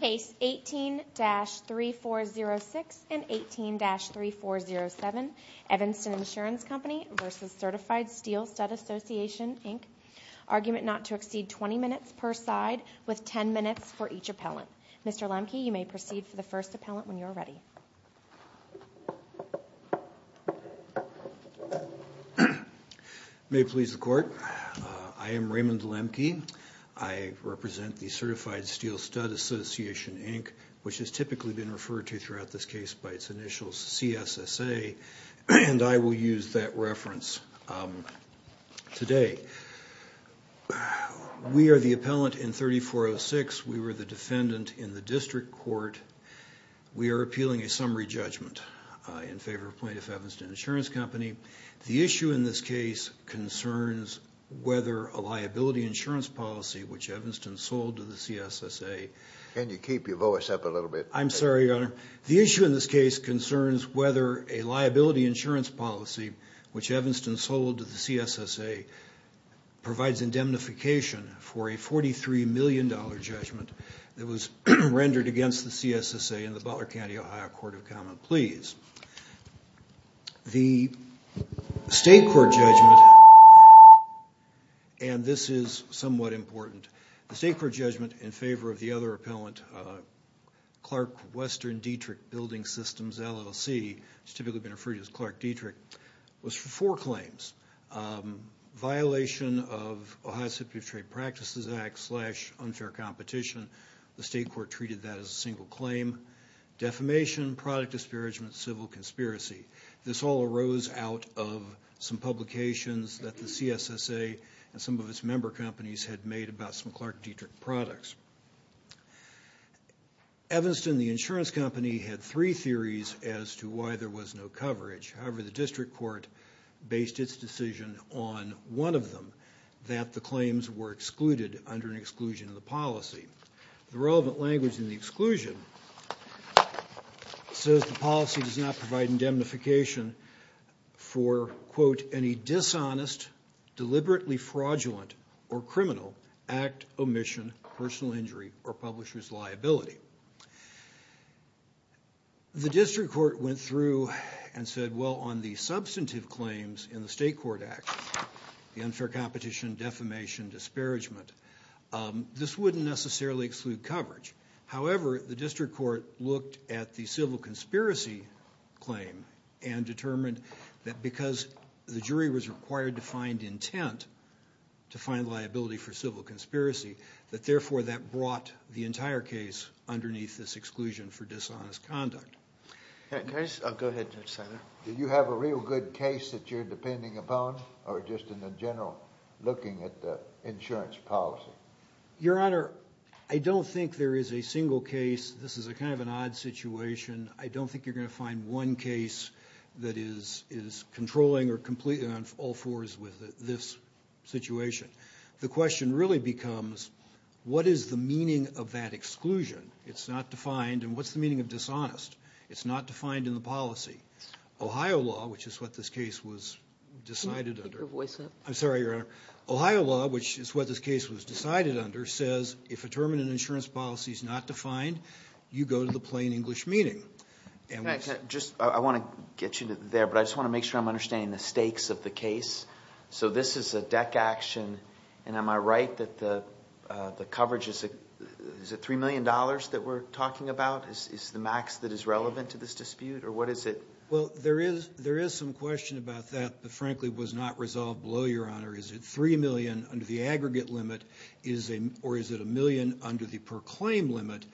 Case 18-3406 and 18-3407, Evanston Insurance Company v. Certified Steel Stud Association Inc. Argument not to exceed 20 minutes per side, with 10 minutes for each appellant. Mr. Lemke, you may proceed for the first appellant when you are ready. May it please the Court, I am Raymond Lemke. I represent the Certified Steel Stud Association Inc., which has typically been referred to throughout this case by its initials, CSSA, and I will use that reference today. We are the appellant in 3406. We were the defendant in the District Court. We are appealing a summary judgment in favor of plaintiff, Evanston Insurance Company. The issue in this case concerns whether a liability insurance policy, which Evanston sold to the CSSA, provides indemnification for a $43 million judgment that was rendered against the CSSA in the Butler County, Ohio, Court of Common Pleas. The State Court judgment, and this is somewhat important, the State Court judgment in favor of the other appellant, Clark Western Dietrich Building Systems LLC, which has typically been referred to as Clark Dietrich, was for four claims. Violation of Ohio City Trade Practices Act slash unfair competition, the State Court treated that as a single claim. Defamation, product disparagement, civil conspiracy. This all arose out of some publications that the CSSA and some of its member companies had made about some Clark Dietrich products. Evanston, the insurance company, had three theories as to why there was no coverage. However, the District Court based its decision on one of them, that the claims were excluded under an exclusion of the policy. The relevant language in the exclusion says the policy does not provide indemnification for, quote, any dishonest, deliberately fraudulent, or criminal act, omission, personal injury, or publisher's liability. The District Court went through and said, well, on the substantive claims in the State Court Act, the unfair competition, defamation, disparagement, this wouldn't necessarily exclude coverage. However, the District Court looked at the civil conspiracy claim and determined that because the jury was required to find intent to find liability for civil conspiracy, that therefore that brought the entire case underneath this exclusion for dishonest conduct. Go ahead, Judge Seiler. Do you have a real good case that you're depending upon, or just in the general looking at the insurance policy? Your Honor, I don't think there is a single case. This is kind of an odd situation. I don't think you're going to find one case that is controlling or completely on all fours with this situation. The question really becomes, what is the meaning of that exclusion? It's not defined. And what's the meaning of dishonest? It's not defined in the policy. Ohio law, which is what this case was decided under. I'm sorry, Your Honor. Ohio law, which is what this case was decided under, says if a term in an insurance policy is not defined, you go to the plain English meeting. I want to get you there, but I just want to make sure I'm understanding the stakes of the case. So this is a deck action. And am I right that the coverage, is it $3 million that we're talking about is the max that is relevant to this dispute? Or what is it? Well, there is some question about that that frankly was not resolved below, Your Honor. Is it $3 million under the aggregate limit, or is it $1 million under the per claim limit?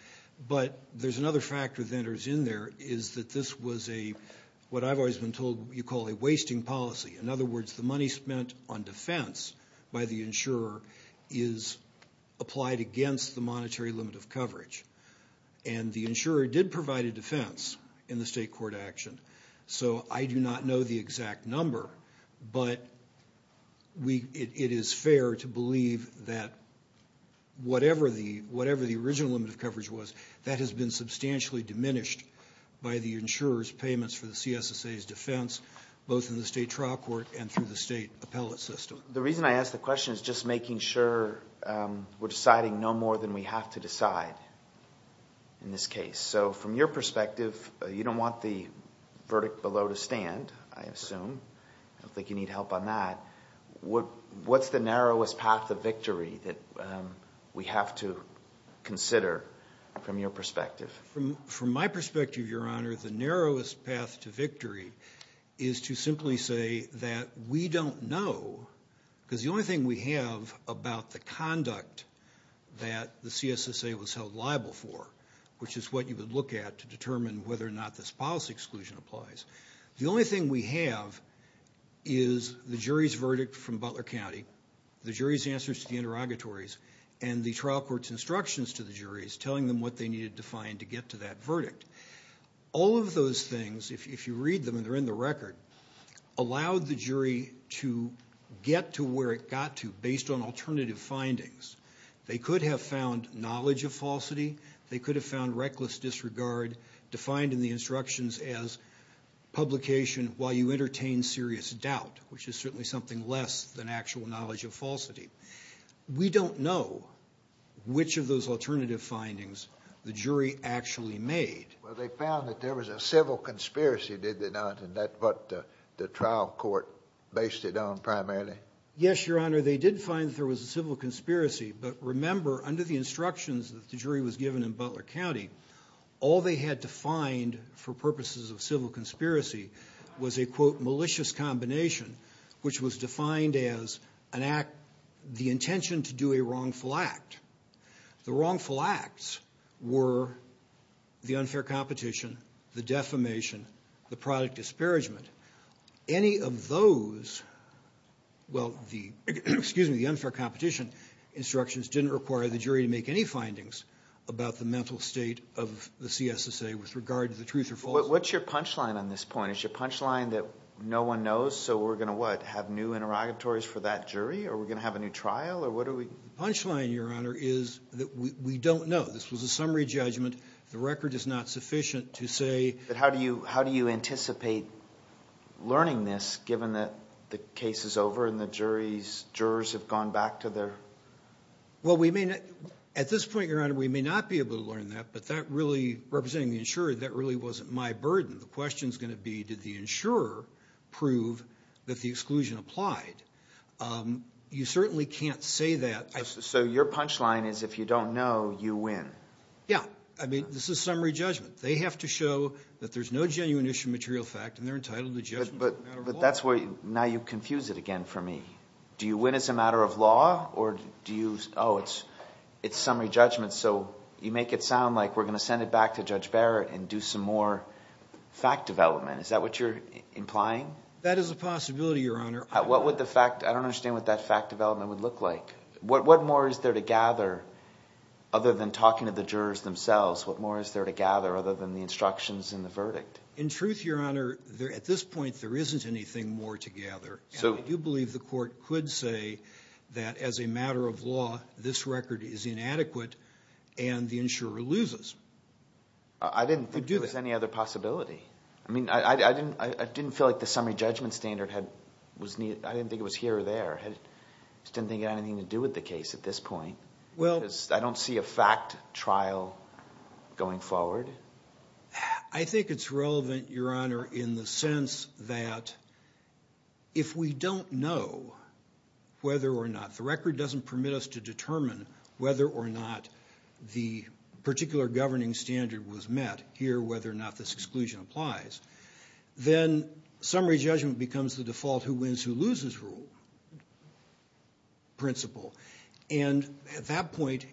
But there's another factor that enters in there is that this was a, what I've always been told you call a wasting policy. In other words, the money spent on defense by the insurer is applied against the monetary limit of coverage. And the insurer did provide a defense in the state court action. So I do not know the exact number, but it is fair to believe that whatever the original limit of coverage was, that has been substantially diminished by the insurer's payments for the CSSA's defense, both in the state trial court and through the state appellate system. The reason I ask the question is just making sure we're deciding no more than we have to decide in this case. So from your perspective, you don't want the verdict below to stand, I assume. I don't think you need help on that. What's the narrowest path to victory that we have to consider from your perspective? From my perspective, Your Honor, the narrowest path to victory is to simply say that we don't know, because the only thing we have about the conduct that the CSSA was held liable for, which is what you would look at to determine whether or not this policy exclusion applies. The only thing we have is the jury's verdict from Butler County, the jury's answers to the interrogatories, and the trial court's instructions to the juries telling them what they needed to find to get to that verdict. All of those things, if you read them and they're in the record, allowed the jury to get to where it got to based on alternative findings. They could have found knowledge of falsity. They could have found reckless disregard defined in the instructions as publication while you entertain serious doubt, which is certainly something less than actual knowledge of falsity. We don't know which of those alternative findings the jury actually made. Well, they found that there was a civil conspiracy, did they not, and that's what the trial court based it on primarily? Yes, Your Honor, they did find that there was a civil conspiracy, but remember under the instructions that the jury was given in Butler County, all they had to find for purposes of civil conspiracy was a, quote, malicious combination, which was defined as an act, the intention to do a wrongful act. The wrongful acts were the unfair competition, the defamation, the product disparagement. Any of those, well, the unfair competition instructions didn't require the jury to make any findings about the mental state of the CSSA with regard to the truth or falsehood. What's your punchline on this point? Is your punchline that no one knows, so we're going to what, have new interrogatories for that jury, or we're going to have a new trial, or what are we? The punchline, Your Honor, is that we don't know. This was a summary judgment. The record is not sufficient to say. But how do you anticipate learning this given that the case is over and the jurors have gone back to their? Well, at this point, Your Honor, we may not be able to learn that, but that really, representing the insurer, that really wasn't my burden. The question is going to be, did the insurer prove that the exclusion applied? You certainly can't say that. So your punchline is if you don't know, you win? Yeah. I mean, this is summary judgment. They have to show that there's no genuine issue of material fact, and they're entitled to judgment as a matter of law. But that's where you, now you confuse it again for me. Do you win as a matter of law, or do you, oh, it's summary judgment, so you make it sound like we're going to send it back to Judge Barrett and do some more fact development. Is that what you're implying? That is a possibility, Your Honor. What would the fact, I don't understand what that fact development would look like. What more is there to gather other than talking to the jurors themselves? What more is there to gather other than the instructions in the verdict? In truth, Your Honor, at this point, there isn't anything more to gather. Do you believe the court could say that as a matter of law, this record is inadequate and the insurer loses? I didn't think there was any other possibility. I mean, I didn't feel like the summary judgment standard was needed. I didn't think it was here or there. I just didn't think it had anything to do with the case at this point. I don't see a fact trial going forward. I think it's relevant, Your Honor, in the sense that if we don't know whether or not, the record doesn't permit us to determine whether or not the particular governing standard was met, here whether or not this exclusion applies, then summary judgment becomes the default who wins, who loses rule principle. And at that point,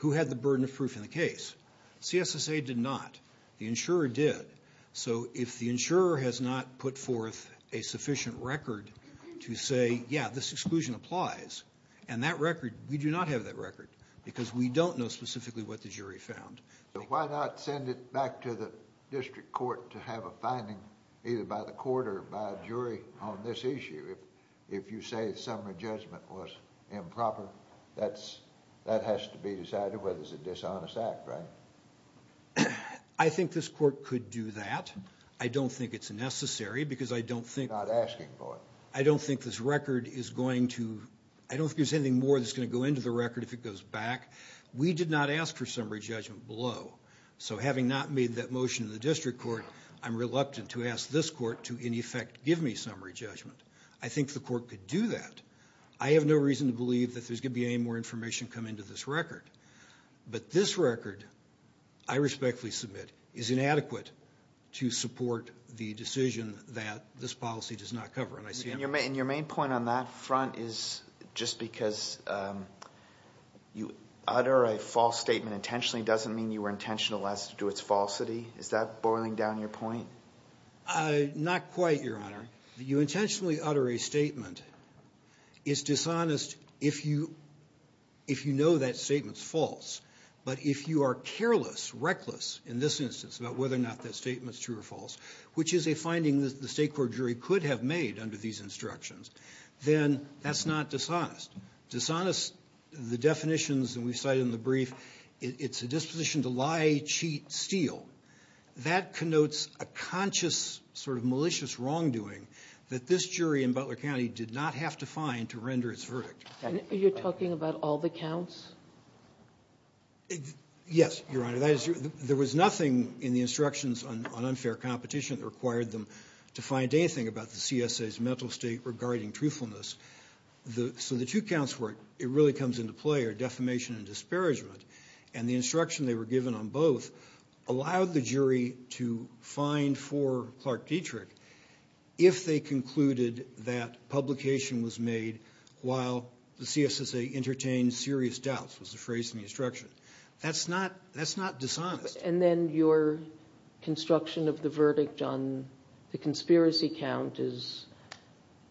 who had the burden of proof in the case? CSSA did not. The insurer did. So if the insurer has not put forth a sufficient record to say, yeah, this exclusion applies, and that record, we do not have that record because we don't know specifically what the jury found. Why not send it back to the district court to have a finding either by the court or by a jury on this issue? If you say summary judgment was improper, that has to be decided whether it's a dishonest act, right? I think this court could do that. I don't think it's necessary because I don't think this record is going to, I don't think there's anything more that's going to go into the record if it goes back. We did not ask for summary judgment below. So having not made that motion in the district court, I'm reluctant to ask this court to, in effect, give me summary judgment. I think the court could do that. I have no reason to believe that there's going to be any more information come into this record. But this record, I respectfully submit, is inadequate to support the decision that this policy does not cover. And your main point on that front is just because you utter a false statement intentionally doesn't mean you were intentional as to do its falsity. Is that boiling down your point? Not quite, Your Honor. You intentionally utter a statement. It's dishonest if you know that statement's false. But if you are careless, reckless in this instance about whether or not that statement's true or false, which is a finding that the state court jury could have made under these instructions, then that's not dishonest. Dishonest, the definitions that we cite in the brief, it's a disposition to lie, cheat, steal. That connotes a conscious sort of malicious wrongdoing that this jury in Butler County did not have to find to render its verdict. Are you talking about all the counts? Yes, Your Honor. There was nothing in the instructions on unfair competition that required them to find anything about the CSA's mental state regarding truthfulness. So the two counts where it really comes into play are defamation and disparagement. And the instruction they were given on both allowed the jury to find for Clark Dietrich if they concluded that publication was made while the CSA entertained serious doubts, was the phrase in the instruction. That's not dishonest. And then your construction of the verdict on the conspiracy count is?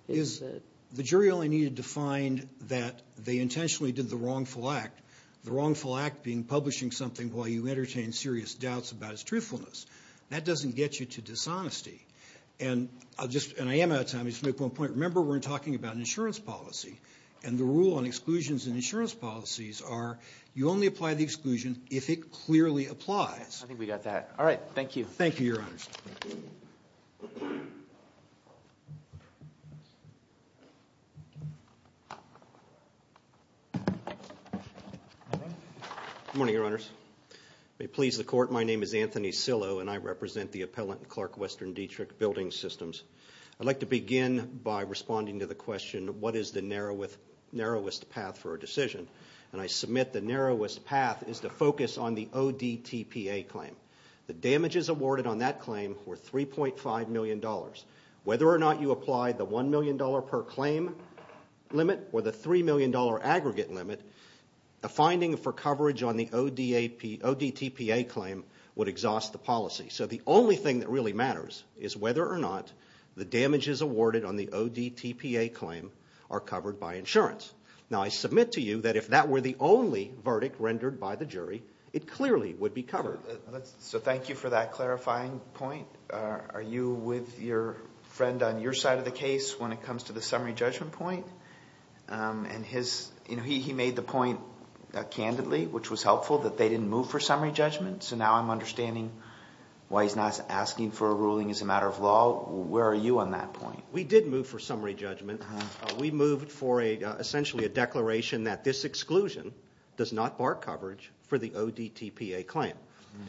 The jury only needed to find that they intentionally did the wrongful act. The wrongful act being publishing something while you entertain serious doubts about its truthfulness. That doesn't get you to dishonesty. And I am out of time. I just want to make one point. Remember, we're talking about an insurance policy. And the rule on exclusions in insurance policies are you only apply the exclusion if it clearly applies. I think we got that. All right, thank you. Thank you, Your Honors. Good morning, Your Honors. May it please the Court, my name is Anthony Sillow, and I represent the appellant in Clark Western Dietrich Building Systems. I'd like to begin by responding to the question, what is the narrowest path for a decision? And I submit the narrowest path is to focus on the ODTPA claim. The damages awarded on that claim were $3.5 million. Whether or not you apply the $1 million per claim limit or the $3 million aggregate limit, the finding for coverage on the ODTPA claim would exhaust the policy. So the only thing that really matters is whether or not the damages awarded on the ODTPA claim are covered by insurance. Now, I submit to you that if that were the only verdict rendered by the jury, it clearly would be covered. So thank you for that clarifying point. Are you with your friend on your side of the case when it comes to the summary judgment point? And he made the point candidly, which was helpful, that they didn't move for summary judgment. So now I'm understanding why he's not asking for a ruling as a matter of law. Where are you on that point? We did move for summary judgment. We moved for essentially a declaration that this exclusion does not bar coverage for the ODTPA claim.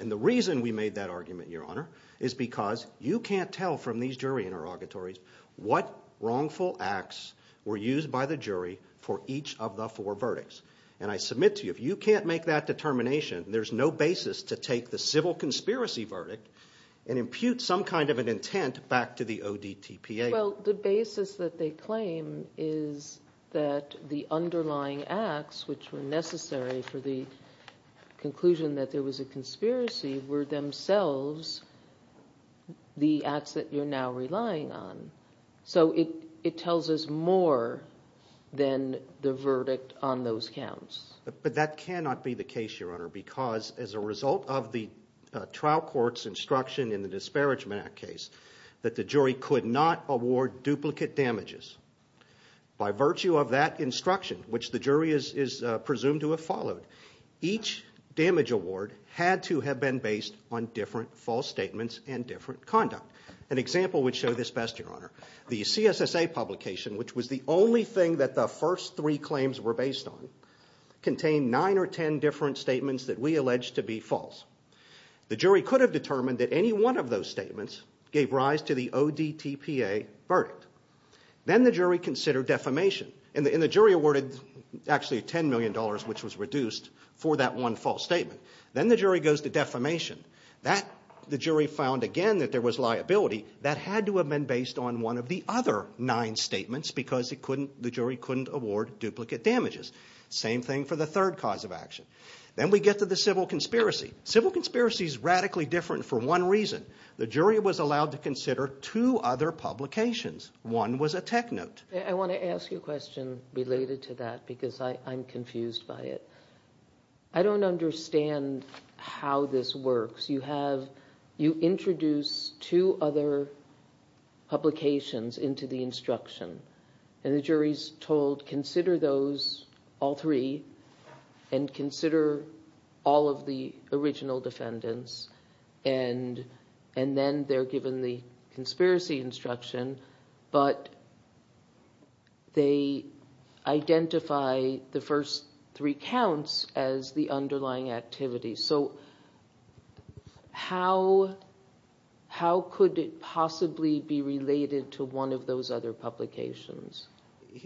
And the reason we made that argument, Your Honor, is because you can't tell from these jury interrogatories what wrongful acts were used by the jury for each of the four verdicts. And I submit to you, if you can't make that determination, there's no basis to take the civil conspiracy verdict and impute some kind of an intent back to the ODTPA. Well, the basis that they claim is that the underlying acts which were necessary for the conclusion that there was a conspiracy were themselves the acts that you're now relying on. So it tells us more than the verdict on those counts. But that cannot be the case, Your Honor, because as a result of the trial court's instruction in the Disparagement Act case, that the jury could not award duplicate damages. By virtue of that instruction, which the jury is presumed to have followed, each damage award had to have been based on different false statements and different conduct. An example would show this best, Your Honor. The CSSA publication, which was the only thing that the first three claims were based on, contained nine or ten different statements that we allege to be false. The jury could have determined that any one of those statements gave rise to the ODTPA verdict. Then the jury considered defamation. And the jury awarded actually $10 million, which was reduced for that one false statement. Then the jury goes to defamation. The jury found again that there was liability that had to have been based on one of the other nine statements because the jury couldn't award duplicate damages. Same thing for the third cause of action. Then we get to the civil conspiracy. Civil conspiracy is radically different for one reason. The jury was allowed to consider two other publications. One was a tech note. I want to ask you a question related to that because I'm confused by it. I don't understand how this works. You introduce two other publications into the instruction. And the jury is told, consider those, all three, and consider all of the original defendants. And then they're given the conspiracy instruction, but they identify the first three counts as the underlying activity. So how could it possibly be related to one of those other publications?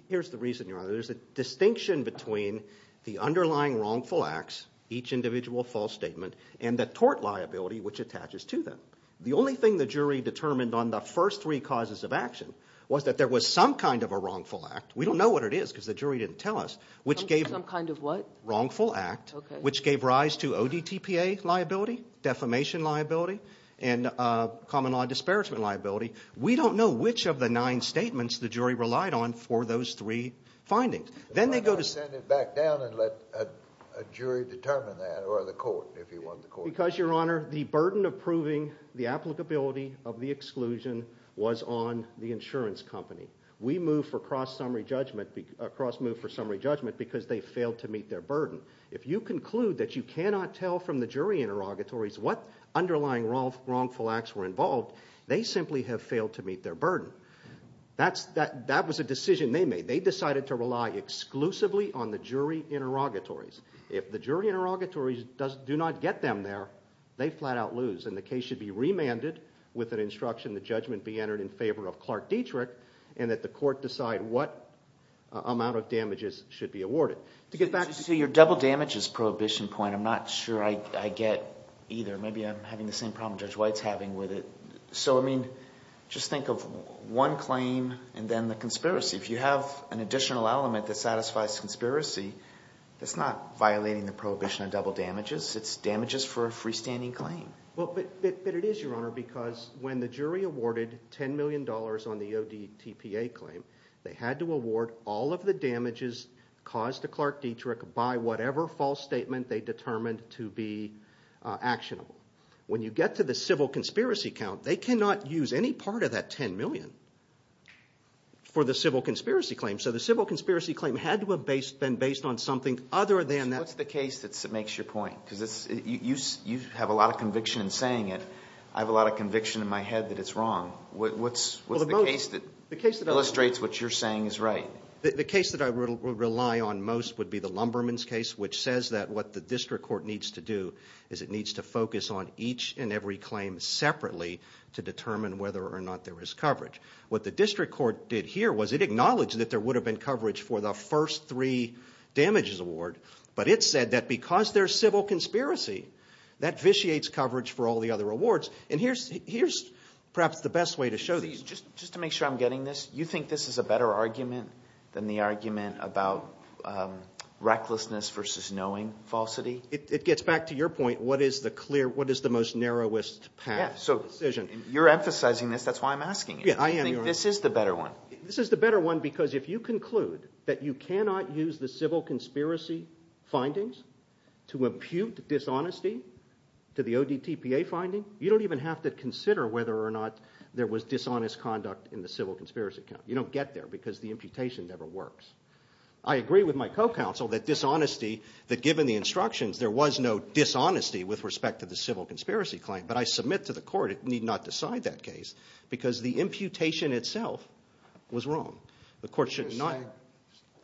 Here's the reason, Your Honor. There's a distinction between the underlying wrongful acts, each individual false statement, and the tort liability, which attaches to them. The only thing the jury determined on the first three causes of action was that there was some kind of a wrongful act. We don't know what it is because the jury didn't tell us. Some kind of what? Wrongful act, which gave rise to ODTPA liability, defamation liability, and common law disparagement liability. We don't know which of the nine statements the jury relied on for those three findings. Then they go to— Why not send it back down and let a jury determine that, or the court, if you want the court— Because, Your Honor, the burden of proving the applicability of the exclusion was on the insurance company. We moved for cross-summary judgment because they failed to meet their burden. If you conclude that you cannot tell from the jury interrogatories what underlying wrongful acts were involved, they simply have failed to meet their burden. That was a decision they made. They decided to rely exclusively on the jury interrogatories. If the jury interrogatories do not get them there, they flat out lose, and the case should be remanded with an instruction the judgment be entered in favor of Clark Dietrich, and that the court decide what amount of damages should be awarded. To get back to your double damages prohibition point, I'm not sure I get either. Maybe I'm having the same problem Judge White's having with it. So, I mean, just think of one claim and then the conspiracy. If you have an additional element that satisfies conspiracy, that's not violating the prohibition of double damages. It's damages for a freestanding claim. But it is, Your Honor, because when the jury awarded $10 million on the ODTPA claim, they had to award all of the damages caused to Clark Dietrich by whatever false statement they determined to be actionable. When you get to the civil conspiracy count, they cannot use any part of that $10 million for the civil conspiracy claim. So the civil conspiracy claim had to have been based on something other than that. What's the case that makes your point? Because you have a lot of conviction in saying it. I have a lot of conviction in my head that it's wrong. What's the case that illustrates what you're saying is right? The case that I would rely on most would be the Lumberman's case, which says that what the district court needs to do is it needs to focus on each and every claim separately to determine whether or not there is coverage. What the district court did here was it acknowledged that there would have been coverage for the first three damages award, but it said that because there's civil conspiracy, that vitiates coverage for all the other awards. And here's perhaps the best way to show this. Just to make sure I'm getting this, you think this is a better argument than the argument about recklessness versus knowing falsity? It gets back to your point. What is the most narrowest path of decision? You're emphasizing this. That's why I'm asking you. I am, Your Honor. This is the better one. This is the better one because if you conclude that you cannot use the civil conspiracy findings to impute dishonesty to the ODTPA finding, you don't even have to consider whether or not there was dishonest conduct in the civil conspiracy case. You don't get there because the imputation never works. I agree with my co-counsel that dishonesty, that given the instructions, there was no dishonesty with respect to the civil conspiracy claim, but I submit to the court it need not decide that case because the imputation itself was wrong. The court should not – You're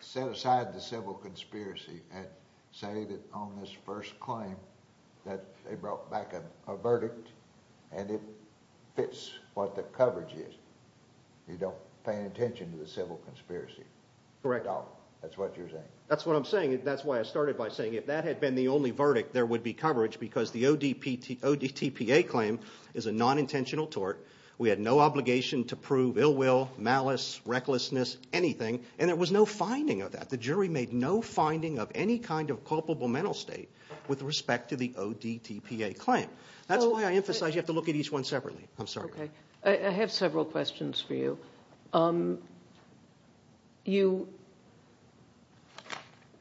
saying set aside the civil conspiracy and say that on this first claim that they brought back a verdict and it fits what the coverage is. You don't pay any attention to the civil conspiracy. Correct. That's what you're saying. That's what I'm saying. That's why I started by saying if that had been the only verdict, there would be coverage because the ODTPA claim is a non-intentional tort. We had no obligation to prove ill will, malice, recklessness, anything, and there was no finding of that. The jury made no finding of any kind of culpable mental state with respect to the ODTPA claim. That's why I emphasize you have to look at each one separately. I'm sorry. I have several questions for you. You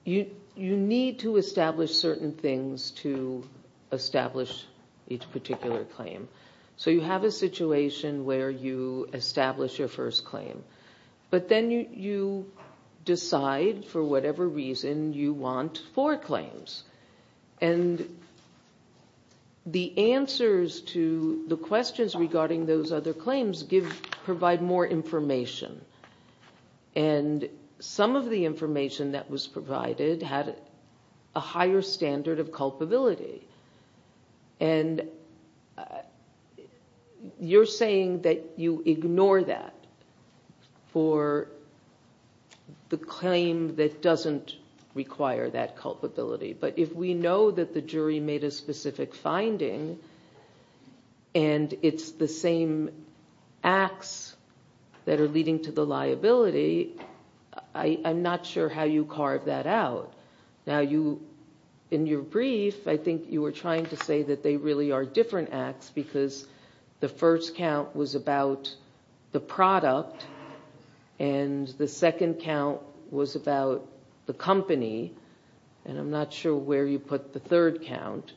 need to establish certain things to establish each particular claim. So you have a situation where you establish your first claim, but then you decide for whatever reason you want four claims. And the answers to the questions regarding those other claims provide more information. And some of the information that was provided had a higher standard of culpability. And you're saying that you ignore that for the claim that doesn't require that culpability. But if we know that the jury made a specific finding and it's the same acts that are leading to the liability, I'm not sure how you carve that out. Now, in your brief, I think you were trying to say that they really are different acts because the first count was about the product and the second count was about the company. And I'm not sure where you put the third count.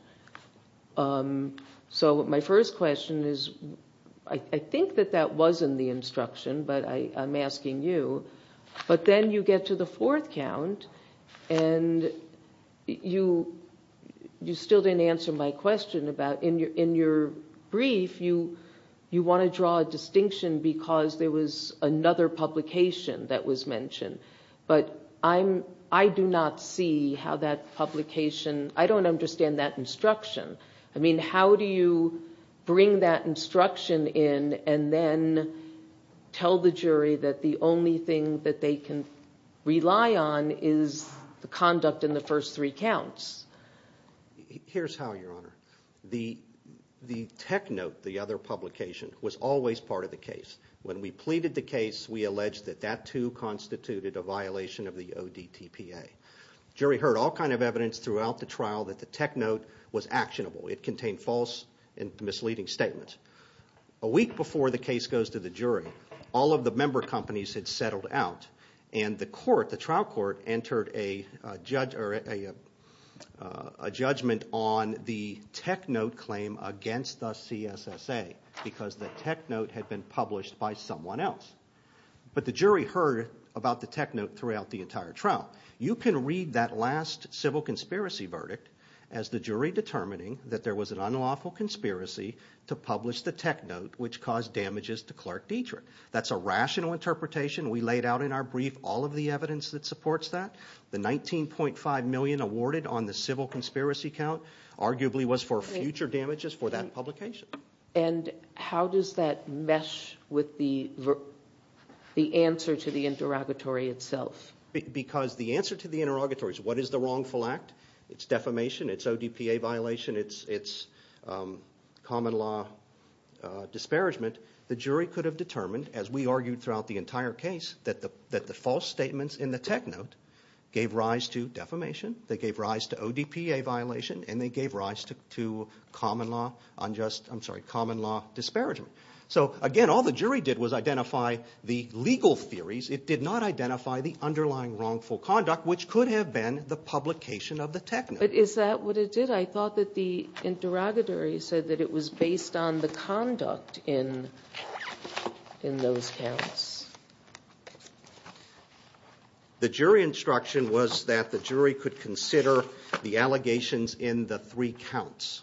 So my first question is, I think that that was in the instruction, but I'm asking you. But then you get to the fourth count, and you still didn't answer my question. In your brief, you want to draw a distinction because there was another publication that was mentioned. But I do not see how that publication, I don't understand that instruction. I mean, how do you bring that instruction in and then tell the jury that the only thing that they can rely on is the conduct in the first three counts? Here's how, Your Honor. The tech note, the other publication, was always part of the case. When we pleaded the case, we alleged that that too constituted a violation of the ODTPA. The jury heard all kinds of evidence throughout the trial that the tech note was actionable. It contained false and misleading statements. A week before the case goes to the jury, all of the member companies had settled out, and the trial court entered a judgment on the tech note claim against the CSSA. Because the tech note had been published by someone else. But the jury heard about the tech note throughout the entire trial. You can read that last civil conspiracy verdict as the jury determining that there was an unlawful conspiracy to publish the tech note, which caused damages to Clark Dietrich. That's a rational interpretation. We laid out in our brief all of the evidence that supports that. The $19.5 million awarded on the civil conspiracy count arguably was for future damages for that publication. And how does that mesh with the answer to the interrogatory itself? Because the answer to the interrogatory is what is the wrongful act? It's defamation, it's ODTPA violation, it's common law disparagement. The jury could have determined, as we argued throughout the entire case, that the false statements in the tech note gave rise to defamation, they gave rise to ODTPA violation, and they gave rise to common law disparagement. So again, all the jury did was identify the legal theories. It did not identify the underlying wrongful conduct, which could have been the publication of the tech note. But is that what it did? I thought that the interrogatory said that it was based on the conduct in those counts. The jury instruction was that the jury could consider the allegations in the three counts.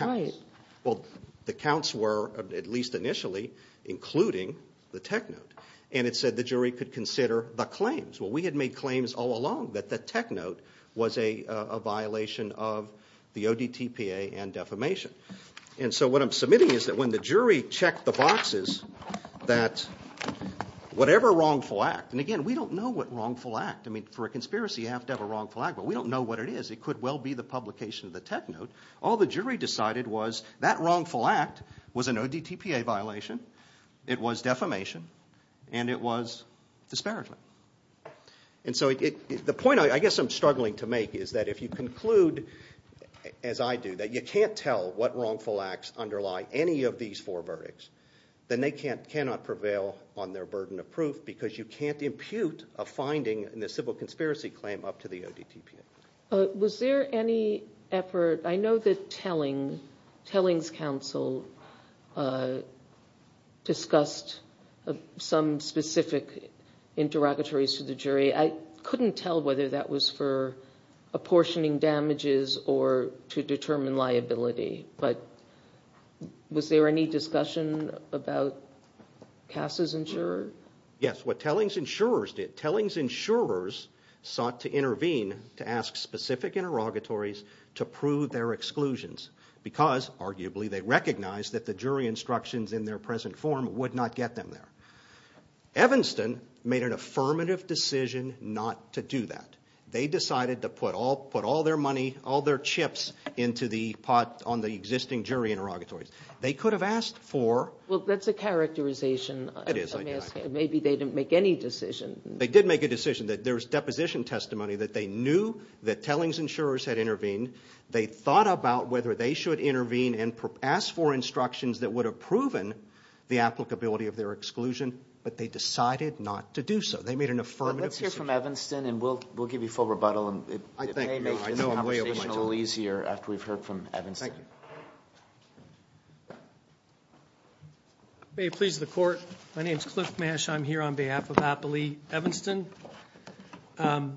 The counts were, at least initially, including the tech note. And it said the jury could consider the claims. Well, we had made claims all along that the tech note was a violation of the ODTPA and defamation. And so what I'm submitting is that when the jury checked the boxes that whatever wrongful act, and again, we don't know what wrongful act. I mean, for a conspiracy you have to have a wrongful act, but we don't know what it is. It could well be the publication of the tech note. All the jury decided was that wrongful act was an ODTPA violation, it was defamation, and it was disparagement. And so the point I guess I'm struggling to make is that if you conclude, as I do, that you can't tell what wrongful acts underlie any of these four verdicts, then they cannot prevail on their burden of proof because you can't impute a finding in the civil conspiracy claim up to the ODTPA. Was there any effort, I know that Telling, Telling's counsel, discussed some specific interrogatories to the jury. I couldn't tell whether that was for apportioning damages or to determine liability, but was there any discussion about Cass's insurer? Yes, what Telling's insurers did, Telling's insurers sought to intervene to ask specific interrogatories to prove their exclusions. Because, arguably, they recognized that the jury instructions in their present form would not get them there. Evanston made an affirmative decision not to do that. They decided to put all their money, all their chips, into the pot on the existing jury interrogatories. They could have asked for... Well, that's a characterization. Maybe they didn't make any decision. They did make a decision. There was deposition testimony that they knew that Telling's insurers had intervened. They thought about whether they should intervene and ask for instructions that would have proven the applicability of their exclusion, but they decided not to do so. They made an affirmative decision. Let's hear from Evanston, and we'll give you full rebuttal. May it please the Court, my name's Cliff Mash. I'm here on behalf of Appley Evanston. The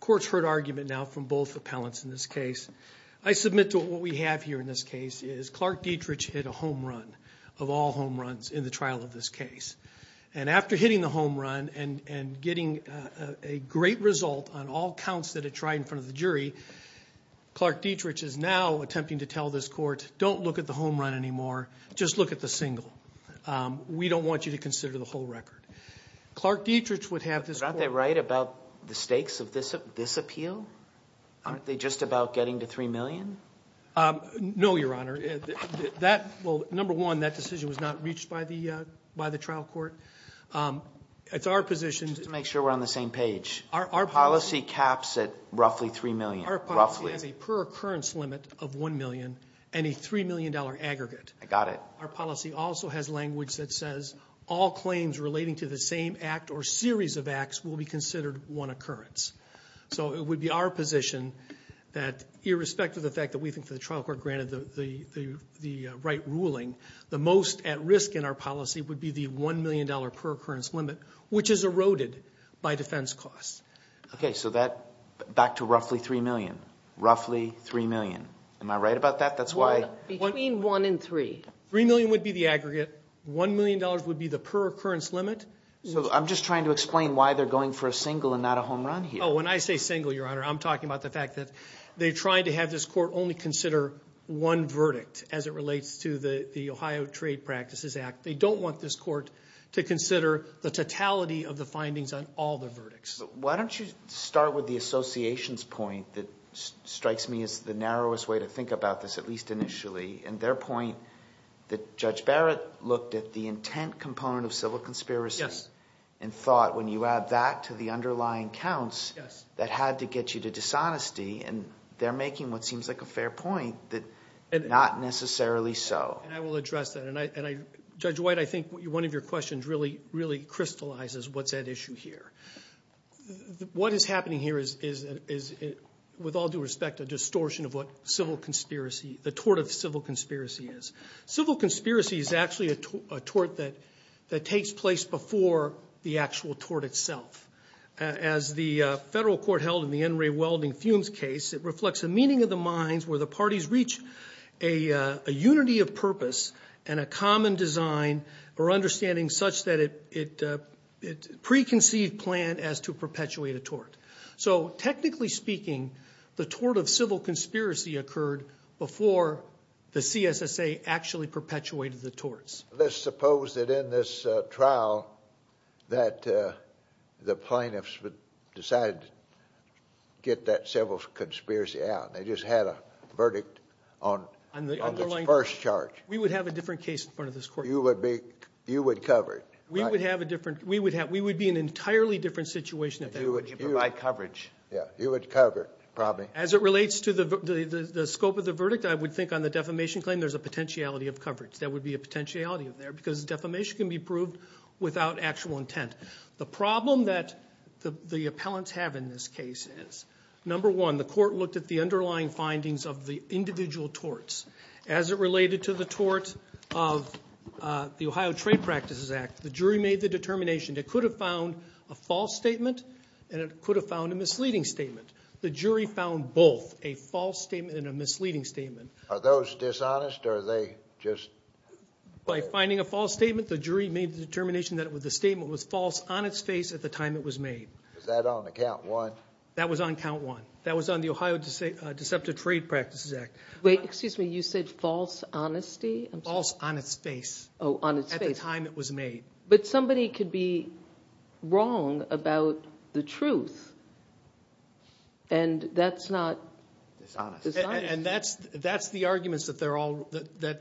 Court's heard argument now from both appellants in this case. I submit to what we have here in this case is Clark Dietrich hit a home run of all home runs in the trial of this case. And after hitting the home run and getting a great result on all counts that it tried in front of the jury, Clark Dietrich is now attempting to tell this Court, don't look at the home run anymore, just look at the single. We don't want you to consider the whole record. Clark Dietrich would have this Court... Aren't they right about the stakes of this appeal? Aren't they just about getting to $3 million? No, Your Honor. Number one, that decision was not reached by the trial court. It's our position... Just to make sure we're on the same page. Our policy caps at roughly $3 million. Our policy has a per occurrence limit of $1 million and a $3 million aggregate. Our policy also has language that says all claims relating to the same act or series of acts will be considered one occurrence. So it would be our position that irrespective of the fact that we think the trial court granted the right ruling, the most at risk in our policy would be the $1 million per occurrence limit, which is eroded by defense costs. Okay, so that... Back to roughly $3 million. Roughly $3 million. Am I right about that? That's why... Between one and three. $3 million would be the aggregate. $1 million would be the per occurrence limit. I'm just trying to explain why they're going for a single and not a home run here. Oh, when I say single, Your Honor, I'm talking about the fact that they're trying to have this Court only consider one verdict as it relates to the Ohio Trade Practices Act. They don't want this Court to consider the totality of the findings on all the verdicts. Why don't you start with the association's point that strikes me as the narrowest way to think about this, at least initially, and their point that Judge Barrett looked at the intent component of civil conspiracy... Yes. ...and thought when you add that to the underlying counts... Yes. ...that had to get you to dishonesty, and they're making what seems like a fair point that not necessarily so. And I will address that, and Judge White, I think one of your questions really, really crystallizes what's at issue here. What is happening here is, with all due respect, a distortion of what civil conspiracy, the tort of civil conspiracy is. Civil conspiracy is actually a tort that takes place before the actual tort itself. As the Federal Court held in the N. Ray Welding Fumes case, it reflects the meaning of the minds where the parties reach a unity of purpose and a common design or understanding such that it preconceived plan as to perpetuate a tort. So technically speaking, the tort of civil conspiracy occurred before the CSSA actually perpetuated the torts. Let's suppose that in this trial that the plaintiffs decided to get that civil conspiracy out, and they just had a verdict on the first charge. We would have a different case in front of this Court. You would cover it. We would be in an entirely different situation. You would provide coverage. You would cover it, probably. As it relates to the scope of the verdict, I would think on the defamation claim there's a potentiality of coverage. There would be a potentiality there because defamation can be proved without actual intent. The problem that the appellants have in this case is, number one, the Court looked at the underlying findings of the individual torts. As it related to the tort of the Ohio Trade Practices Act, the jury made the determination it could have found a false statement and it could have found a misleading statement. The jury found both, a false statement and a misleading statement. Are those dishonest, or are they just? By finding a false statement, the jury made the determination that the statement was false on its face at the time it was made. Is that on count one? That was on count one. That was on the Ohio Deceptive Trade Practices Act. Wait, excuse me. You said false honesty? False on its face. Oh, on its face. At the time it was made. But somebody could be wrong about the truth, and that's not dishonest. And that's the arguments that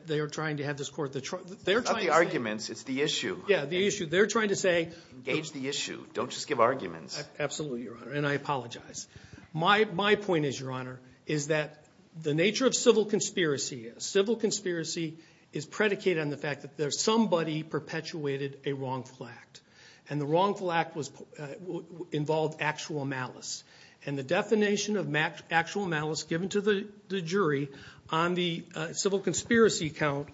they're trying to have this Court. It's not the arguments. It's the issue. Yeah, the issue. They're trying to say. Engage the issue. Don't just give arguments. Absolutely, Your Honor, and I apologize. My point is, Your Honor, is that the nature of civil conspiracy, civil conspiracy is predicated on the fact that somebody perpetuated a wrongful act. And the wrongful act involved actual malice. And the definition of actual malice given to the jury on the civil conspiracy count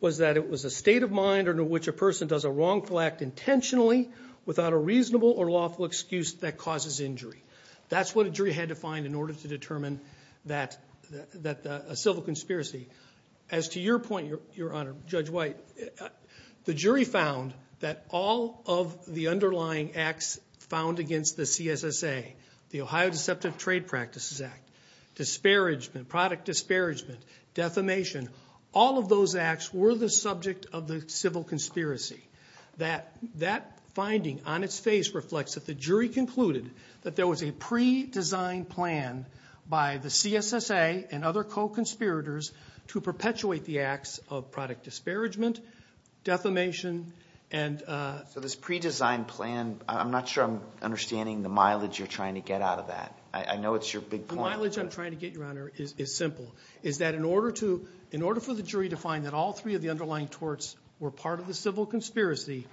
was that it was a state of mind under which a person does a wrongful act intentionally without a reasonable or lawful excuse that causes injury. That's what a jury had to find in order to determine that a civil conspiracy. As to your point, Your Honor, Judge White, the jury found that all of the underlying acts found against the CSSA, the Ohio Deceptive Trade Practices Act, disparagement, product disparagement, defamation, all of those acts were the subject of the civil conspiracy. That finding on its face reflects that the jury concluded that there was a pre-designed plan by the CSSA and other co-conspirators to perpetuate the acts of product disparagement, defamation, and. So this pre-designed plan, I'm not sure I'm understanding the mileage you're trying to get out of that. I know it's your big point. The mileage I'm trying to get, Your Honor, is simple. It's that in order for the jury to find that all three of the underlying torts were part of the civil conspiracy,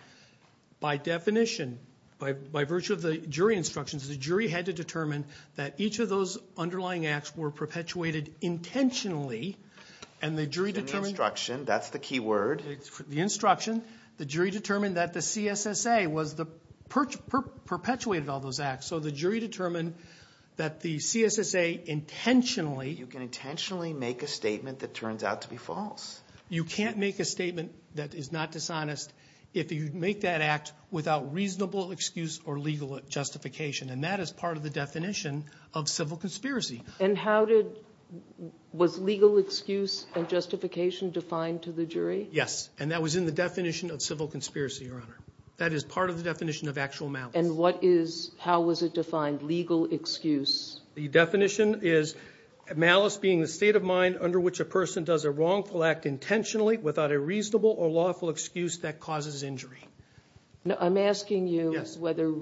by definition, by virtue of the jury instructions, the jury had to determine that each of those underlying acts were perpetuated intentionally. And the jury determined. The instruction, that's the key word. The instruction. The jury determined that the CSSA perpetuated all those acts. So the jury determined that the CSSA intentionally. You can intentionally make a statement that turns out to be false. You can't make a statement that is not dishonest if you make that act without reasonable excuse or legal justification. And that is part of the definition of civil conspiracy. And how did, was legal excuse and justification defined to the jury? Yes, and that was in the definition of civil conspiracy, Your Honor. That is part of the definition of actual malice. And what is, how was it defined, legal excuse? The definition is malice being the state of mind under which a person does a wrongful act intentionally without a reasonable or lawful excuse that causes injury. I'm asking you whether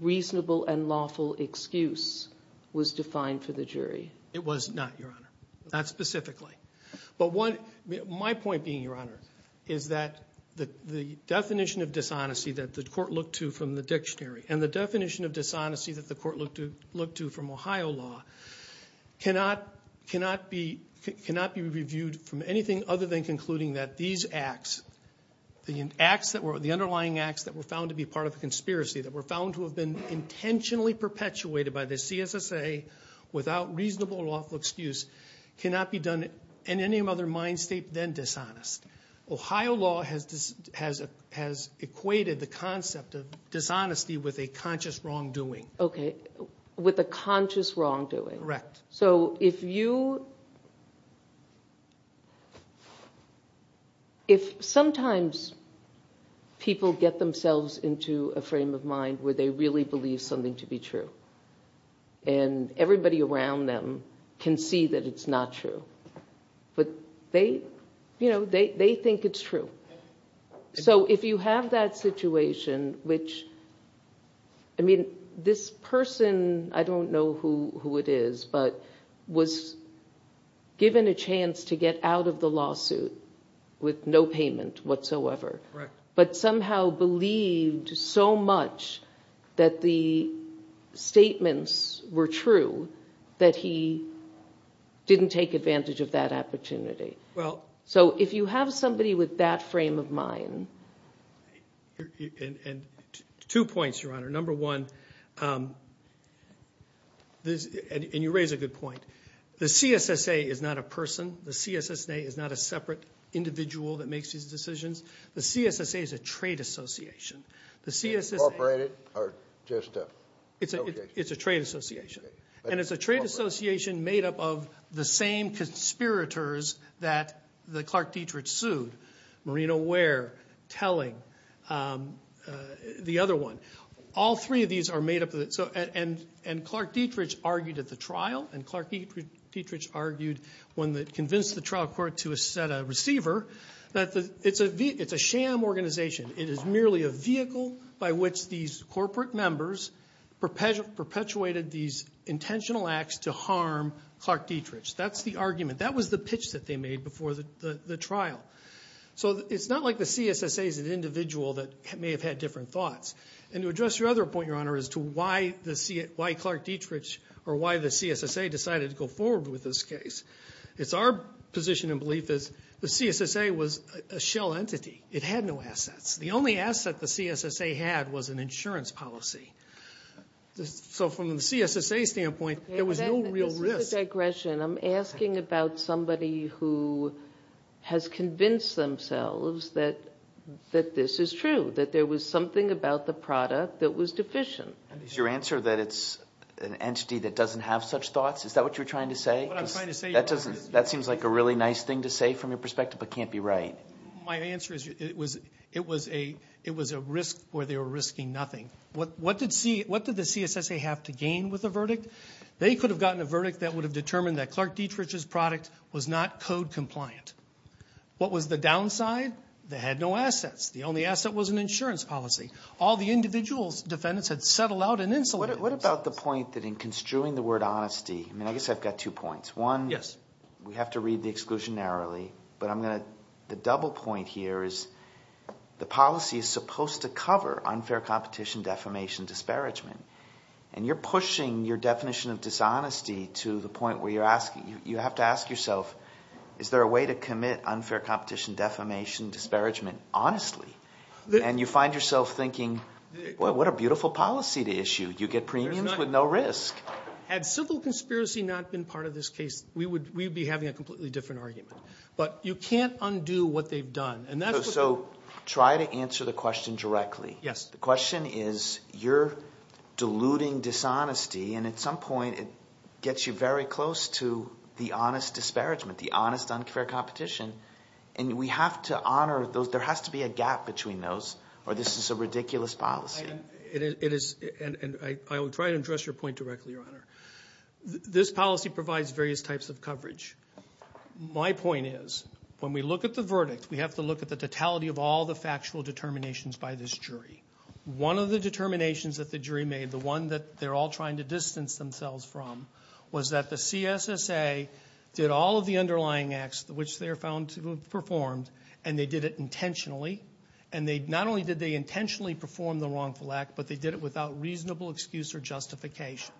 reasonable and lawful excuse was defined for the jury. It was not, Your Honor. Not specifically. But one, my point being, Your Honor, is that the definition of dishonesty that the court looked to from the dictionary and the definition of dishonesty that the court looked to from Ohio law cannot be reviewed from anything other than concluding that these acts, the underlying acts that were found to be part of a conspiracy, that were found to have been intentionally perpetuated by the CSSA without reasonable or lawful excuse, cannot be done in any other mind state than dishonest. Ohio law has equated the concept of dishonesty with a conscious wrongdoing. Okay, with a conscious wrongdoing. Correct. So if you, if sometimes people get themselves into a frame of mind where they really believe something to be true and everybody around them can see that it's not true, but they, you know, they think it's true. So if you have that situation, which, I mean, this person, I don't know who it is, but was given a chance to get out of the lawsuit with no payment whatsoever. Correct. But somehow believed so much that the statements were true that he didn't take advantage of that opportunity. Well. So if you have somebody with that frame of mind. And two points, Your Honor. Number one, and you raise a good point, the CSSA is not a person. The CSSA is not a separate individual that makes these decisions. The CSSA is a trade association. Incorporated or just an association? It's a trade association. And it's a trade association made up of the same conspirators that Clark Dietrich sued, Marina Ware, Telling, the other one. All three of these are made up of, and Clark Dietrich argued at the trial, and Clark Dietrich argued when they convinced the trial court to set a receiver, that it's a sham organization. It is merely a vehicle by which these corporate members perpetuated these intentional acts to harm Clark Dietrich. That's the argument. That was the pitch that they made before the trial. So it's not like the CSSA is an individual that may have had different thoughts. And to address your other point, Your Honor, as to why Clark Dietrich or why the CSSA decided to go forward with this case, it's our position and belief that the CSSA was a shell entity. It had no assets. The only asset the CSSA had was an insurance policy. So from the CSSA standpoint, there was no real risk. This is a digression. I'm asking about somebody who has convinced themselves that this is true, that there was something about the product that was deficient. Is your answer that it's an entity that doesn't have such thoughts? Is that what you're trying to say? That seems like a really nice thing to say from your perspective but can't be right. My answer is it was a risk where they were risking nothing. What did the CSSA have to gain with the verdict? They could have gotten a verdict that would have determined that Clark Dietrich's product was not code compliant. What was the downside? They had no assets. The only asset was an insurance policy. All the individual defendants had settled out in insolvency. What about the point that in construing the word honesty, I guess I've got two points. One, we have to read the exclusion narrowly, but the double point here is the policy is supposed to cover unfair competition, defamation, disparagement, and you're pushing your definition of dishonesty to the point where you have to ask yourself, is there a way to commit unfair competition, defamation, disparagement honestly? And you find yourself thinking, well, what a beautiful policy to issue. You get premiums with no risk. Had civil conspiracy not been part of this case, we would be having a completely different argument. But you can't undo what they've done. So try to answer the question directly. Yes. The question is you're diluting dishonesty, and at some point it gets you very close to the honest disparagement, the honest unfair competition, and we have to honor those. There has to be a gap between those or this is a ridiculous policy. It is, and I will try to address your point directly, Your Honor. This policy provides various types of coverage. My point is when we look at the verdict, we have to look at the totality of all the factual determinations by this jury. One of the determinations that the jury made, the one that they're all trying to distance themselves from, was that the CSSA did all of the underlying acts which they are found to have performed, and they did it intentionally, and not only did they intentionally perform the wrongful act, but they did it without reasonable excuse or justification.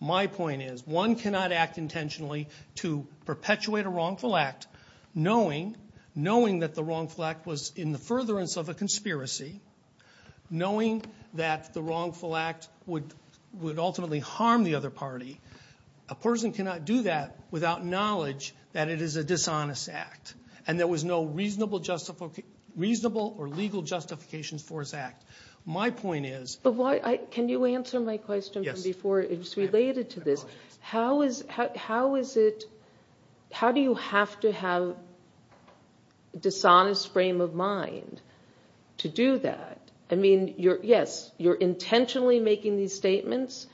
My point is one cannot act intentionally to perpetuate a wrongful act, knowing that the wrongful act was in the furtherance of a conspiracy, knowing that the wrongful act would ultimately harm the other party. A person cannot do that without knowledge that it is a dishonest act, and there was no reasonable or legal justifications for his act. My point is... Can you answer my question from before? It's related to this. How do you have to have a dishonest frame of mind to do that? I mean, yes, you're intentionally making these statements.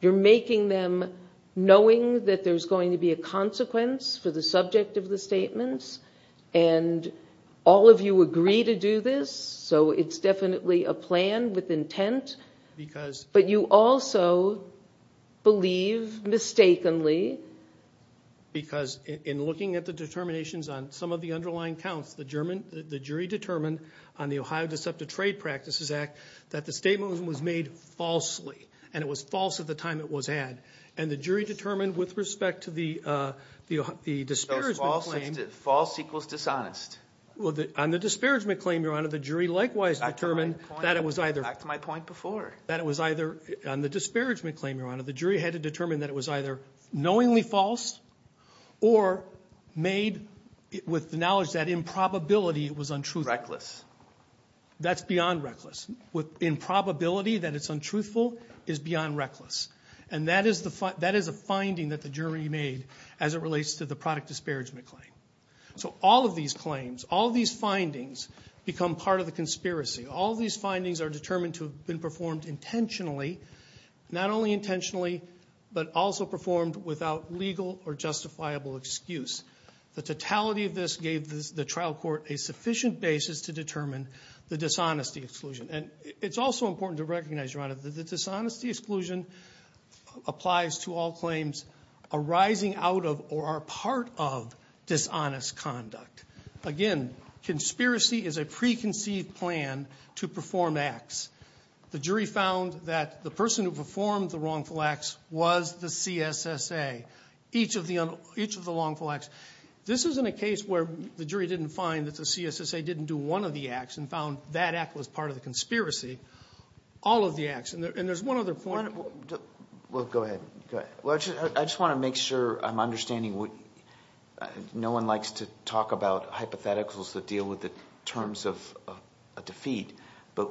You're making them knowing that there's going to be a consequence for the subject of the statements, and all of you agree to do this, so it's definitely a plan with intent, but you also believe mistakenly... Because in looking at the determinations on some of the underlying counts, the jury determined on the Ohio Deceptive Trade Practices Act that the statement was made falsely, and it was false at the time it was had. And the jury determined with respect to the disparagement claim... False equals dishonest. On the disparagement claim, Your Honor, the jury likewise determined that it was either... Back to my point before. That it was either, on the disparagement claim, Your Honor, the jury had to determine that it was either knowingly false or made with the knowledge that in probability it was untruthful. Reckless. That's beyond reckless. In probability that it's untruthful is beyond reckless, and that is a finding that the jury made as it relates to the product disparagement claim. So all of these claims, all of these findings, become part of the conspiracy. All of these findings are determined to have been performed intentionally, not only intentionally, but also performed without legal or justifiable excuse. The totality of this gave the trial court a sufficient basis to determine the dishonesty exclusion. And it's also important to recognize, Your Honor, that the dishonesty exclusion applies to all claims arising out of or are part of dishonest conduct. Again, conspiracy is a preconceived plan to perform acts. The jury found that the person who performed the wrongful acts was the CSSA. Each of the wrongful acts. This isn't a case where the jury didn't find that the CSSA didn't do one of the acts and found that act was part of the conspiracy. All of the acts. And there's one other point. Well, go ahead. I just want to make sure I'm understanding. No one likes to talk about hypotheticals that deal with the terms of a defeat, but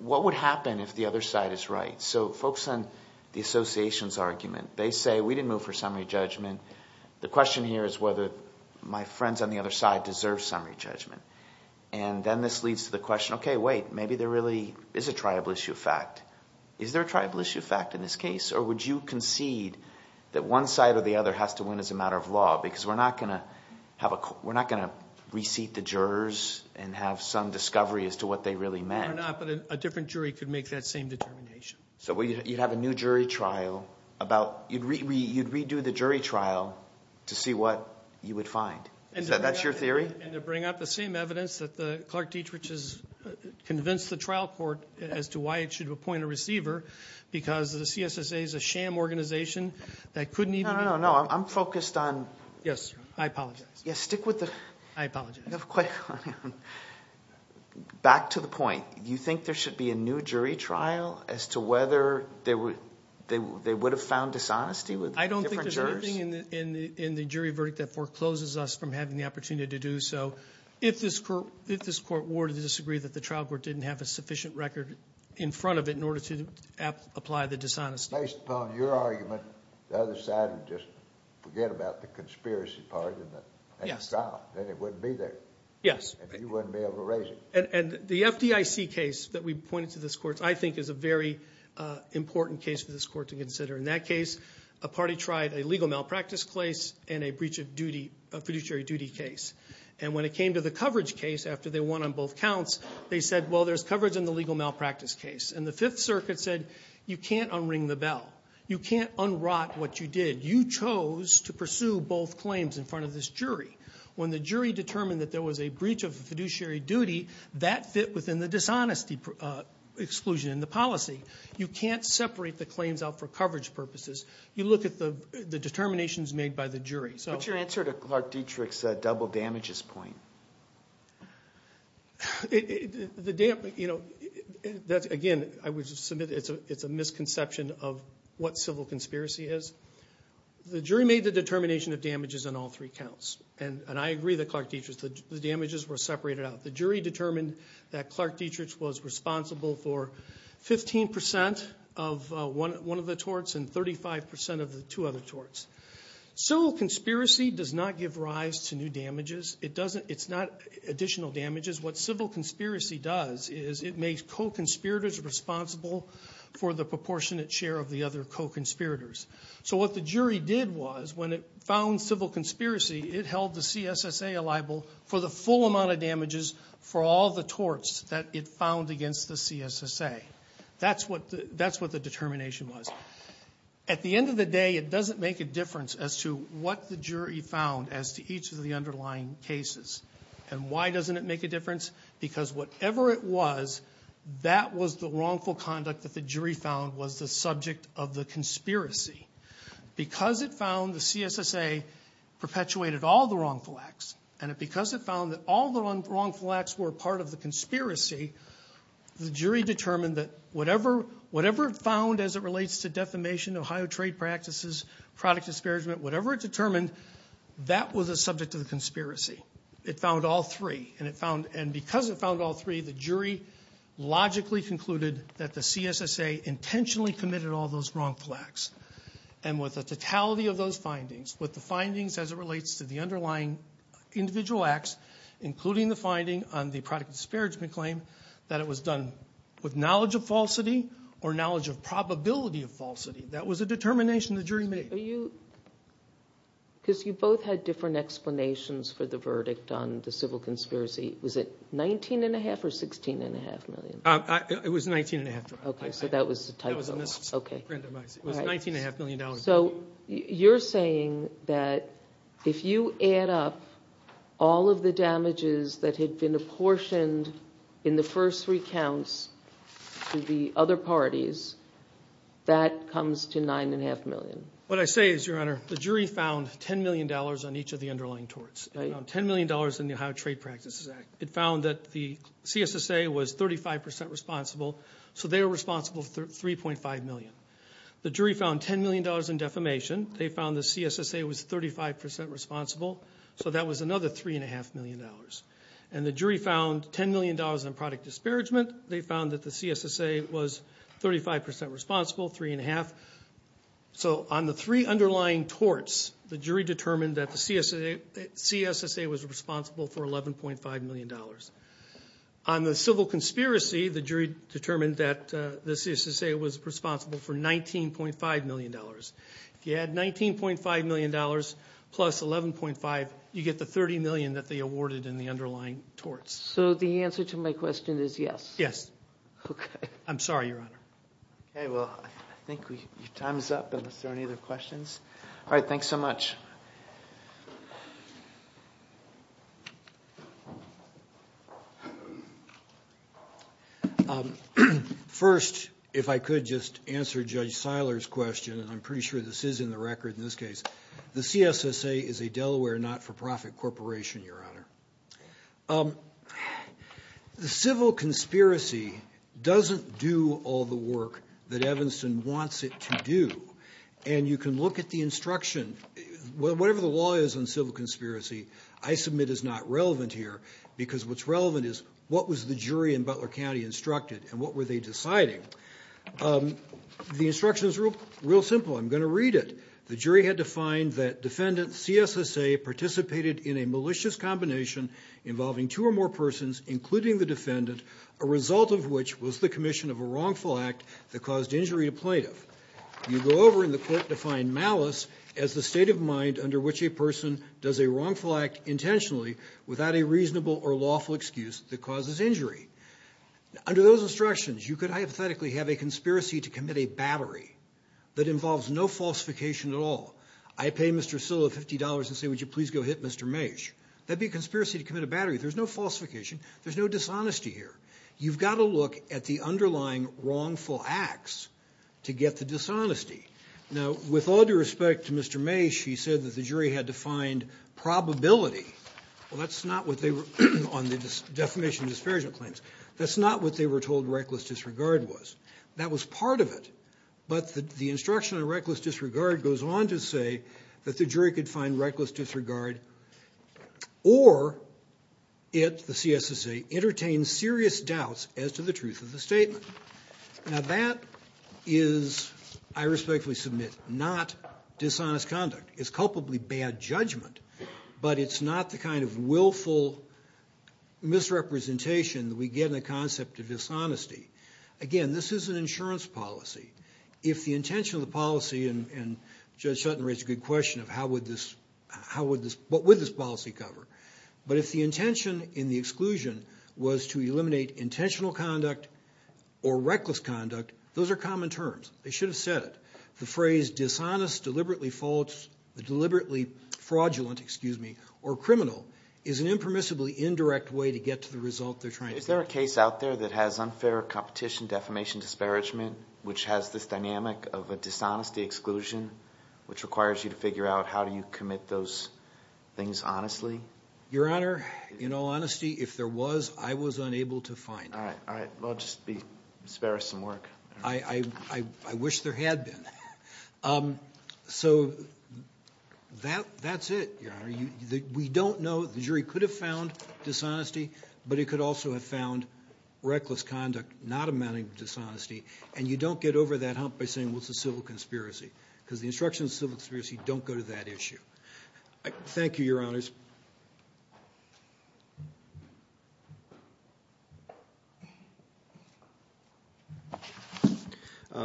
what would happen if the other side is right? So folks on the association's argument, they say, we didn't move for summary judgment. The question here is whether my friends on the other side deserve summary judgment. And then this leads to the question, okay, wait, maybe they're really – is a tribal issue a fact? Is there a tribal issue a fact in this case? Or would you concede that one side or the other has to win as a matter of law? Because we're not going to have a – we're not going to reseat the jurors and have some discovery as to what they really meant. We're not, but a different jury could make that same determination. So you'd have a new jury trial about – you'd redo the jury trial to see what you would find. Is that your theory? And to bring up the same evidence that Clark Dietrich has convinced the trial court as to why it should appoint a receiver because the CSSA is a sham organization that couldn't even – No, no, no, I'm focused on – Yes, I apologize. Yes, stick with the – I apologize. Back to the point. You think there should be a new jury trial as to whether they would have found dishonesty with different jurors? I think in the jury verdict that forecloses us from having the opportunity to do so. If this court were to disagree that the trial court didn't have a sufficient record in front of it in order to apply the dishonesty. Based upon your argument, the other side would just forget about the conspiracy part of the trial. Then it wouldn't be there. Yes. And you wouldn't be able to raise it. And the FDIC case that we pointed to this court, I think is a very important case for this court to consider. In that case, a party tried a legal malpractice case and a breach of fiduciary duty case. And when it came to the coverage case, after they won on both counts, they said, well, there's coverage in the legal malpractice case. And the Fifth Circuit said, you can't un-ring the bell. You can't un-rot what you did. You chose to pursue both claims in front of this jury. When the jury determined that there was a breach of fiduciary duty, that fit within the dishonesty exclusion in the policy. You can't separate the claims out for coverage purposes. You look at the determinations made by the jury. What's your answer to Clark Dietrich's double damages point? Again, I would submit it's a misconception of what civil conspiracy is. The jury made the determination of damages on all three counts. And I agree with Clark Dietrich that the damages were separated out. The jury determined that Clark Dietrich was responsible for 15% of one of the torts and 35% of the two other torts. Civil conspiracy does not give rise to new damages. It's not additional damages. What civil conspiracy does is it makes co-conspirators responsible for the proportionate share of the other co-conspirators. So what the jury did was, when it found civil conspiracy, it held the CSSA liable for the full amount of damages for all the torts that it found against the CSSA. That's what the determination was. At the end of the day, it doesn't make a difference as to what the jury found as to each of the underlying cases. And why doesn't it make a difference? Because whatever it was, that was the wrongful conduct that the jury found was the subject of the conspiracy. Because it found the CSSA perpetuated all the wrongful acts, and because it found that all the wrongful acts were part of the conspiracy, the jury determined that whatever it found as it relates to defamation, Ohio trade practices, product disparagement, whatever it determined, that was the subject of the conspiracy. It found all three. And because it found all three, the jury logically concluded that the CSSA intentionally committed all those wrongful acts. And with the totality of those findings, with the findings as it relates to the underlying individual acts, including the finding on the product disparagement claim, that it was done with knowledge of falsity or knowledge of probability of falsity. That was the determination the jury made. Because you both had different explanations for the verdict on the civil conspiracy. Was it $19.5 million or $16.5 million? It was $19.5 million. Okay, so that was a typo. It was $19.5 million. So you're saying that if you add up all of the damages that had been apportioned in the first three counts to the other parties, that comes to $9.5 million. What I say is, Your Honor, the jury found $10 million on each of the underlying torts. It found $10 million in the Ohio Trade Practices Act. It found that the CSSA was 35% responsible, so they were responsible for $3.5 million. The jury found $10 million in defamation. They found the CSSA was 35% responsible, so that was another $3.5 million. And the jury found $10 million in product disparagement. They found that the CSSA was 35% responsible, 3.5. So on the three underlying torts, the jury determined that the CSSA was responsible for $11.5 million. On the civil conspiracy, the jury determined that the CSSA was responsible for $19.5 million. If you add $19.5 million plus $11.5, you get the $30 million that they awarded in the underlying torts. So the answer to my question is yes? Yes. Okay. I'm sorry, Your Honor. Okay. Well, I think your time is up. Are there any other questions? All right. Thanks so much. First, if I could just answer Judge Seiler's question, and I'm pretty sure this is in the record in this case. The CSSA is a Delaware not-for-profit corporation, Your Honor. The civil conspiracy doesn't do all the work that Evanston wants it to do. And you can look at the instruction. Whatever the law is on civil conspiracy, I submit is not relevant here because what's relevant is what was the jury in Butler County instructed and what were they deciding. The instruction is real simple. I'm going to read it. The jury had defined that defendant CSSA participated in a malicious combination involving two or more persons, including the defendant, a result of which was the commission of a wrongful act that caused injury to plaintiff. You go over in the court-defined malice as the state of mind under which a person does a wrongful act intentionally without a reasonable or lawful excuse that causes injury. Under those instructions, you could hypothetically have a conspiracy to commit a battery that involves no falsification at all. I pay Mr. Seiler $50 and say, would you please go hit Mr. Mase? That'd be a conspiracy to commit a battery. There's no falsification. There's no dishonesty here. You've got to look at the underlying wrongful acts to get the dishonesty. Now, with all due respect to Mr. Mase, he said that the jury had defined probability. Well, that's not what they were on the defamation and disparagement claims. That's not what they were told reckless disregard was. That was part of it. But the instruction on reckless disregard goes on to say that the jury could find reckless disregard or it, the CSSA, entertained serious doubts as to the truth of the statement. Now, that is, I respectfully submit, not dishonest conduct. It's culpably bad judgment, but it's not the kind of willful misrepresentation that we get in the concept of dishonesty. Again, this is an insurance policy. If the intention of the policy, and Judge Sutton raised a good question of how would this, how would this, what would this policy cover? But if the intention in the exclusion was to eliminate intentional conduct or reckless conduct, those are common terms. They should have said it. The phrase dishonest, deliberately false, deliberately fraudulent, excuse me, or criminal is an impermissibly indirect way to get to the result they're trying to get. Is there a case out there that has unfair competition, defamation, disparagement, which has this dynamic of a dishonesty exclusion, which requires you to figure out how do you commit those things honestly? Your Honor, in all honesty, if there was, I was unable to find it. All right, all right. Well, just be, spare us some work. I wish there had been. So that's it, Your Honor. We don't know. The jury could have found dishonesty, but it could also have found reckless conduct not amounting to dishonesty. And you don't get over that hump by saying, well, it's a civil conspiracy, because the instructions of civil conspiracy don't go to that issue. Thank you, Your Honors.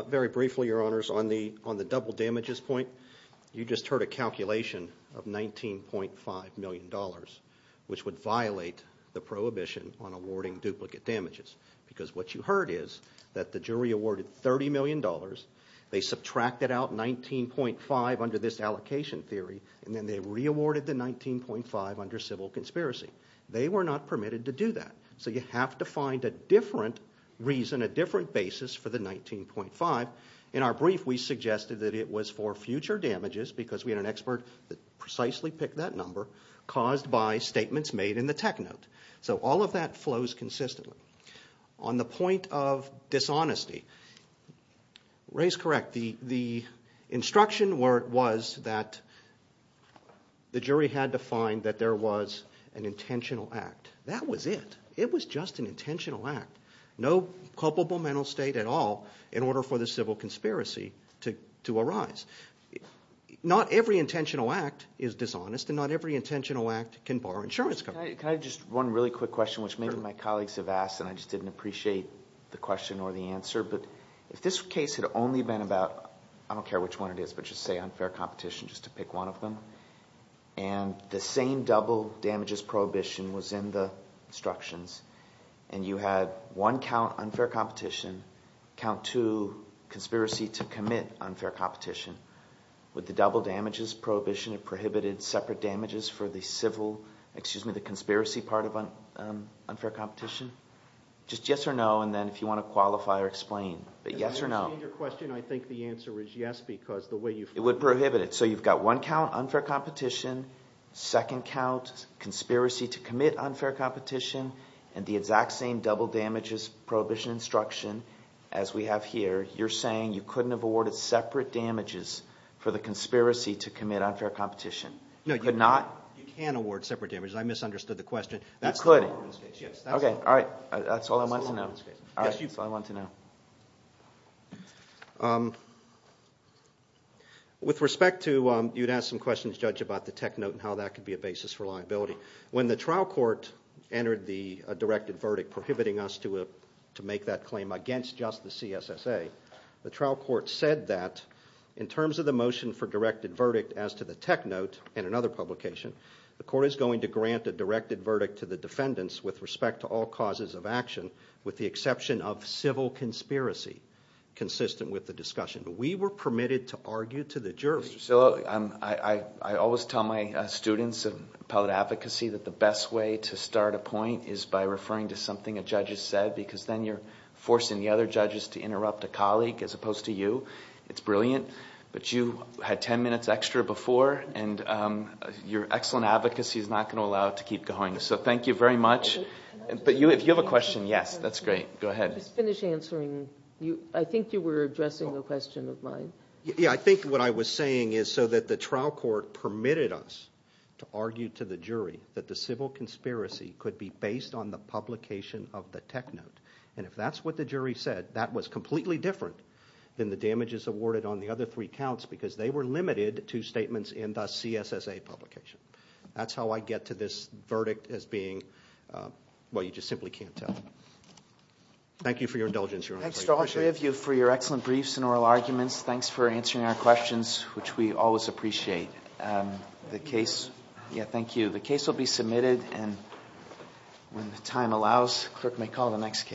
Very briefly, Your Honors, on the double damages point, you just heard a calculation of $19.5 million, which would violate the prohibition on awarding duplicate damages. Because what you heard is that the jury awarded $30 million. They subtracted out $19.5 under this allocation theory, and then they re-awarded the $19.5 under civil conspiracy. They were not permitted to do that. So you have to find a different reason, a different basis for the $19.5. In our brief, we suggested that it was for future damages, because we had an expert that precisely picked that number, caused by statements made in the tech note. So all of that flows consistently. On the point of dishonesty, Ray's correct. The instruction was that the jury had to find that there was an intentional act. That was it. It was just an intentional act. No culpable mental state at all in order for the civil conspiracy to arise. Not every intentional act is dishonest, and not every intentional act can bar insurance companies. Can I just – one really quick question, which maybe my colleagues have asked, and I just didn't appreciate the question or the answer. But if this case had only been about – I don't care which one it is, but just say unfair competition just to pick one of them. And the same double damages prohibition was in the instructions, and you had one count unfair competition, count two conspiracy to commit unfair competition. Would the double damages prohibition have prohibited separate damages for the civil – excuse me, the conspiracy part of unfair competition? Just yes or no, and then if you want to qualify or explain. But yes or no. I understand your question. I think the answer is yes because the way you've – It would prohibit it. So you've got one count unfair competition, second count conspiracy to commit unfair competition, and the exact same double damages prohibition instruction as we have here. You're saying you couldn't have awarded separate damages for the conspiracy to commit unfair competition. You could not? No, you can award separate damages. I misunderstood the question. You couldn't? Yes. Okay. All right. That's all I wanted to know. With respect to – you had asked some questions, Judge, about the tech note and how that could be a basis for liability. When the trial court entered the directed verdict prohibiting us to make that claim against just the CSSA, the trial court said that in terms of the motion for directed verdict as to the tech note and another publication, the court is going to grant a directed verdict to the defendants with respect to all causes of action with the exception of civil conspiracy consistent with the discussion. But we were permitted to argue to the jurors. So I always tell my students of appellate advocacy that the best way to start a point is by referring to something a judge has said because then you're forcing the other judges to interrupt a colleague as opposed to you. It's brilliant. But you had ten minutes extra before, and your excellent advocacy is not going to allow it to keep going. So thank you very much. But if you have a question, yes, that's great. Go ahead. Just finish answering. I think you were addressing a question of mine. Yeah. I think what I was saying is so that the trial court permitted us to argue to the jury that the civil conspiracy could be based on the publication of the tech note. And if that's what the jury said, that was completely different than the damages awarded on the other three counts because they were limited to statements in the CSSA publication. That's how I get to this verdict as being, well, you just simply can't tell. Thank you for your indulgence, Your Honor. Thanks to all three of you for your excellent briefs and oral arguments. Thanks for answering our questions, which we always appreciate. The case, yeah, thank you. The case will be submitted, and when the time allows, the clerk may call the next case.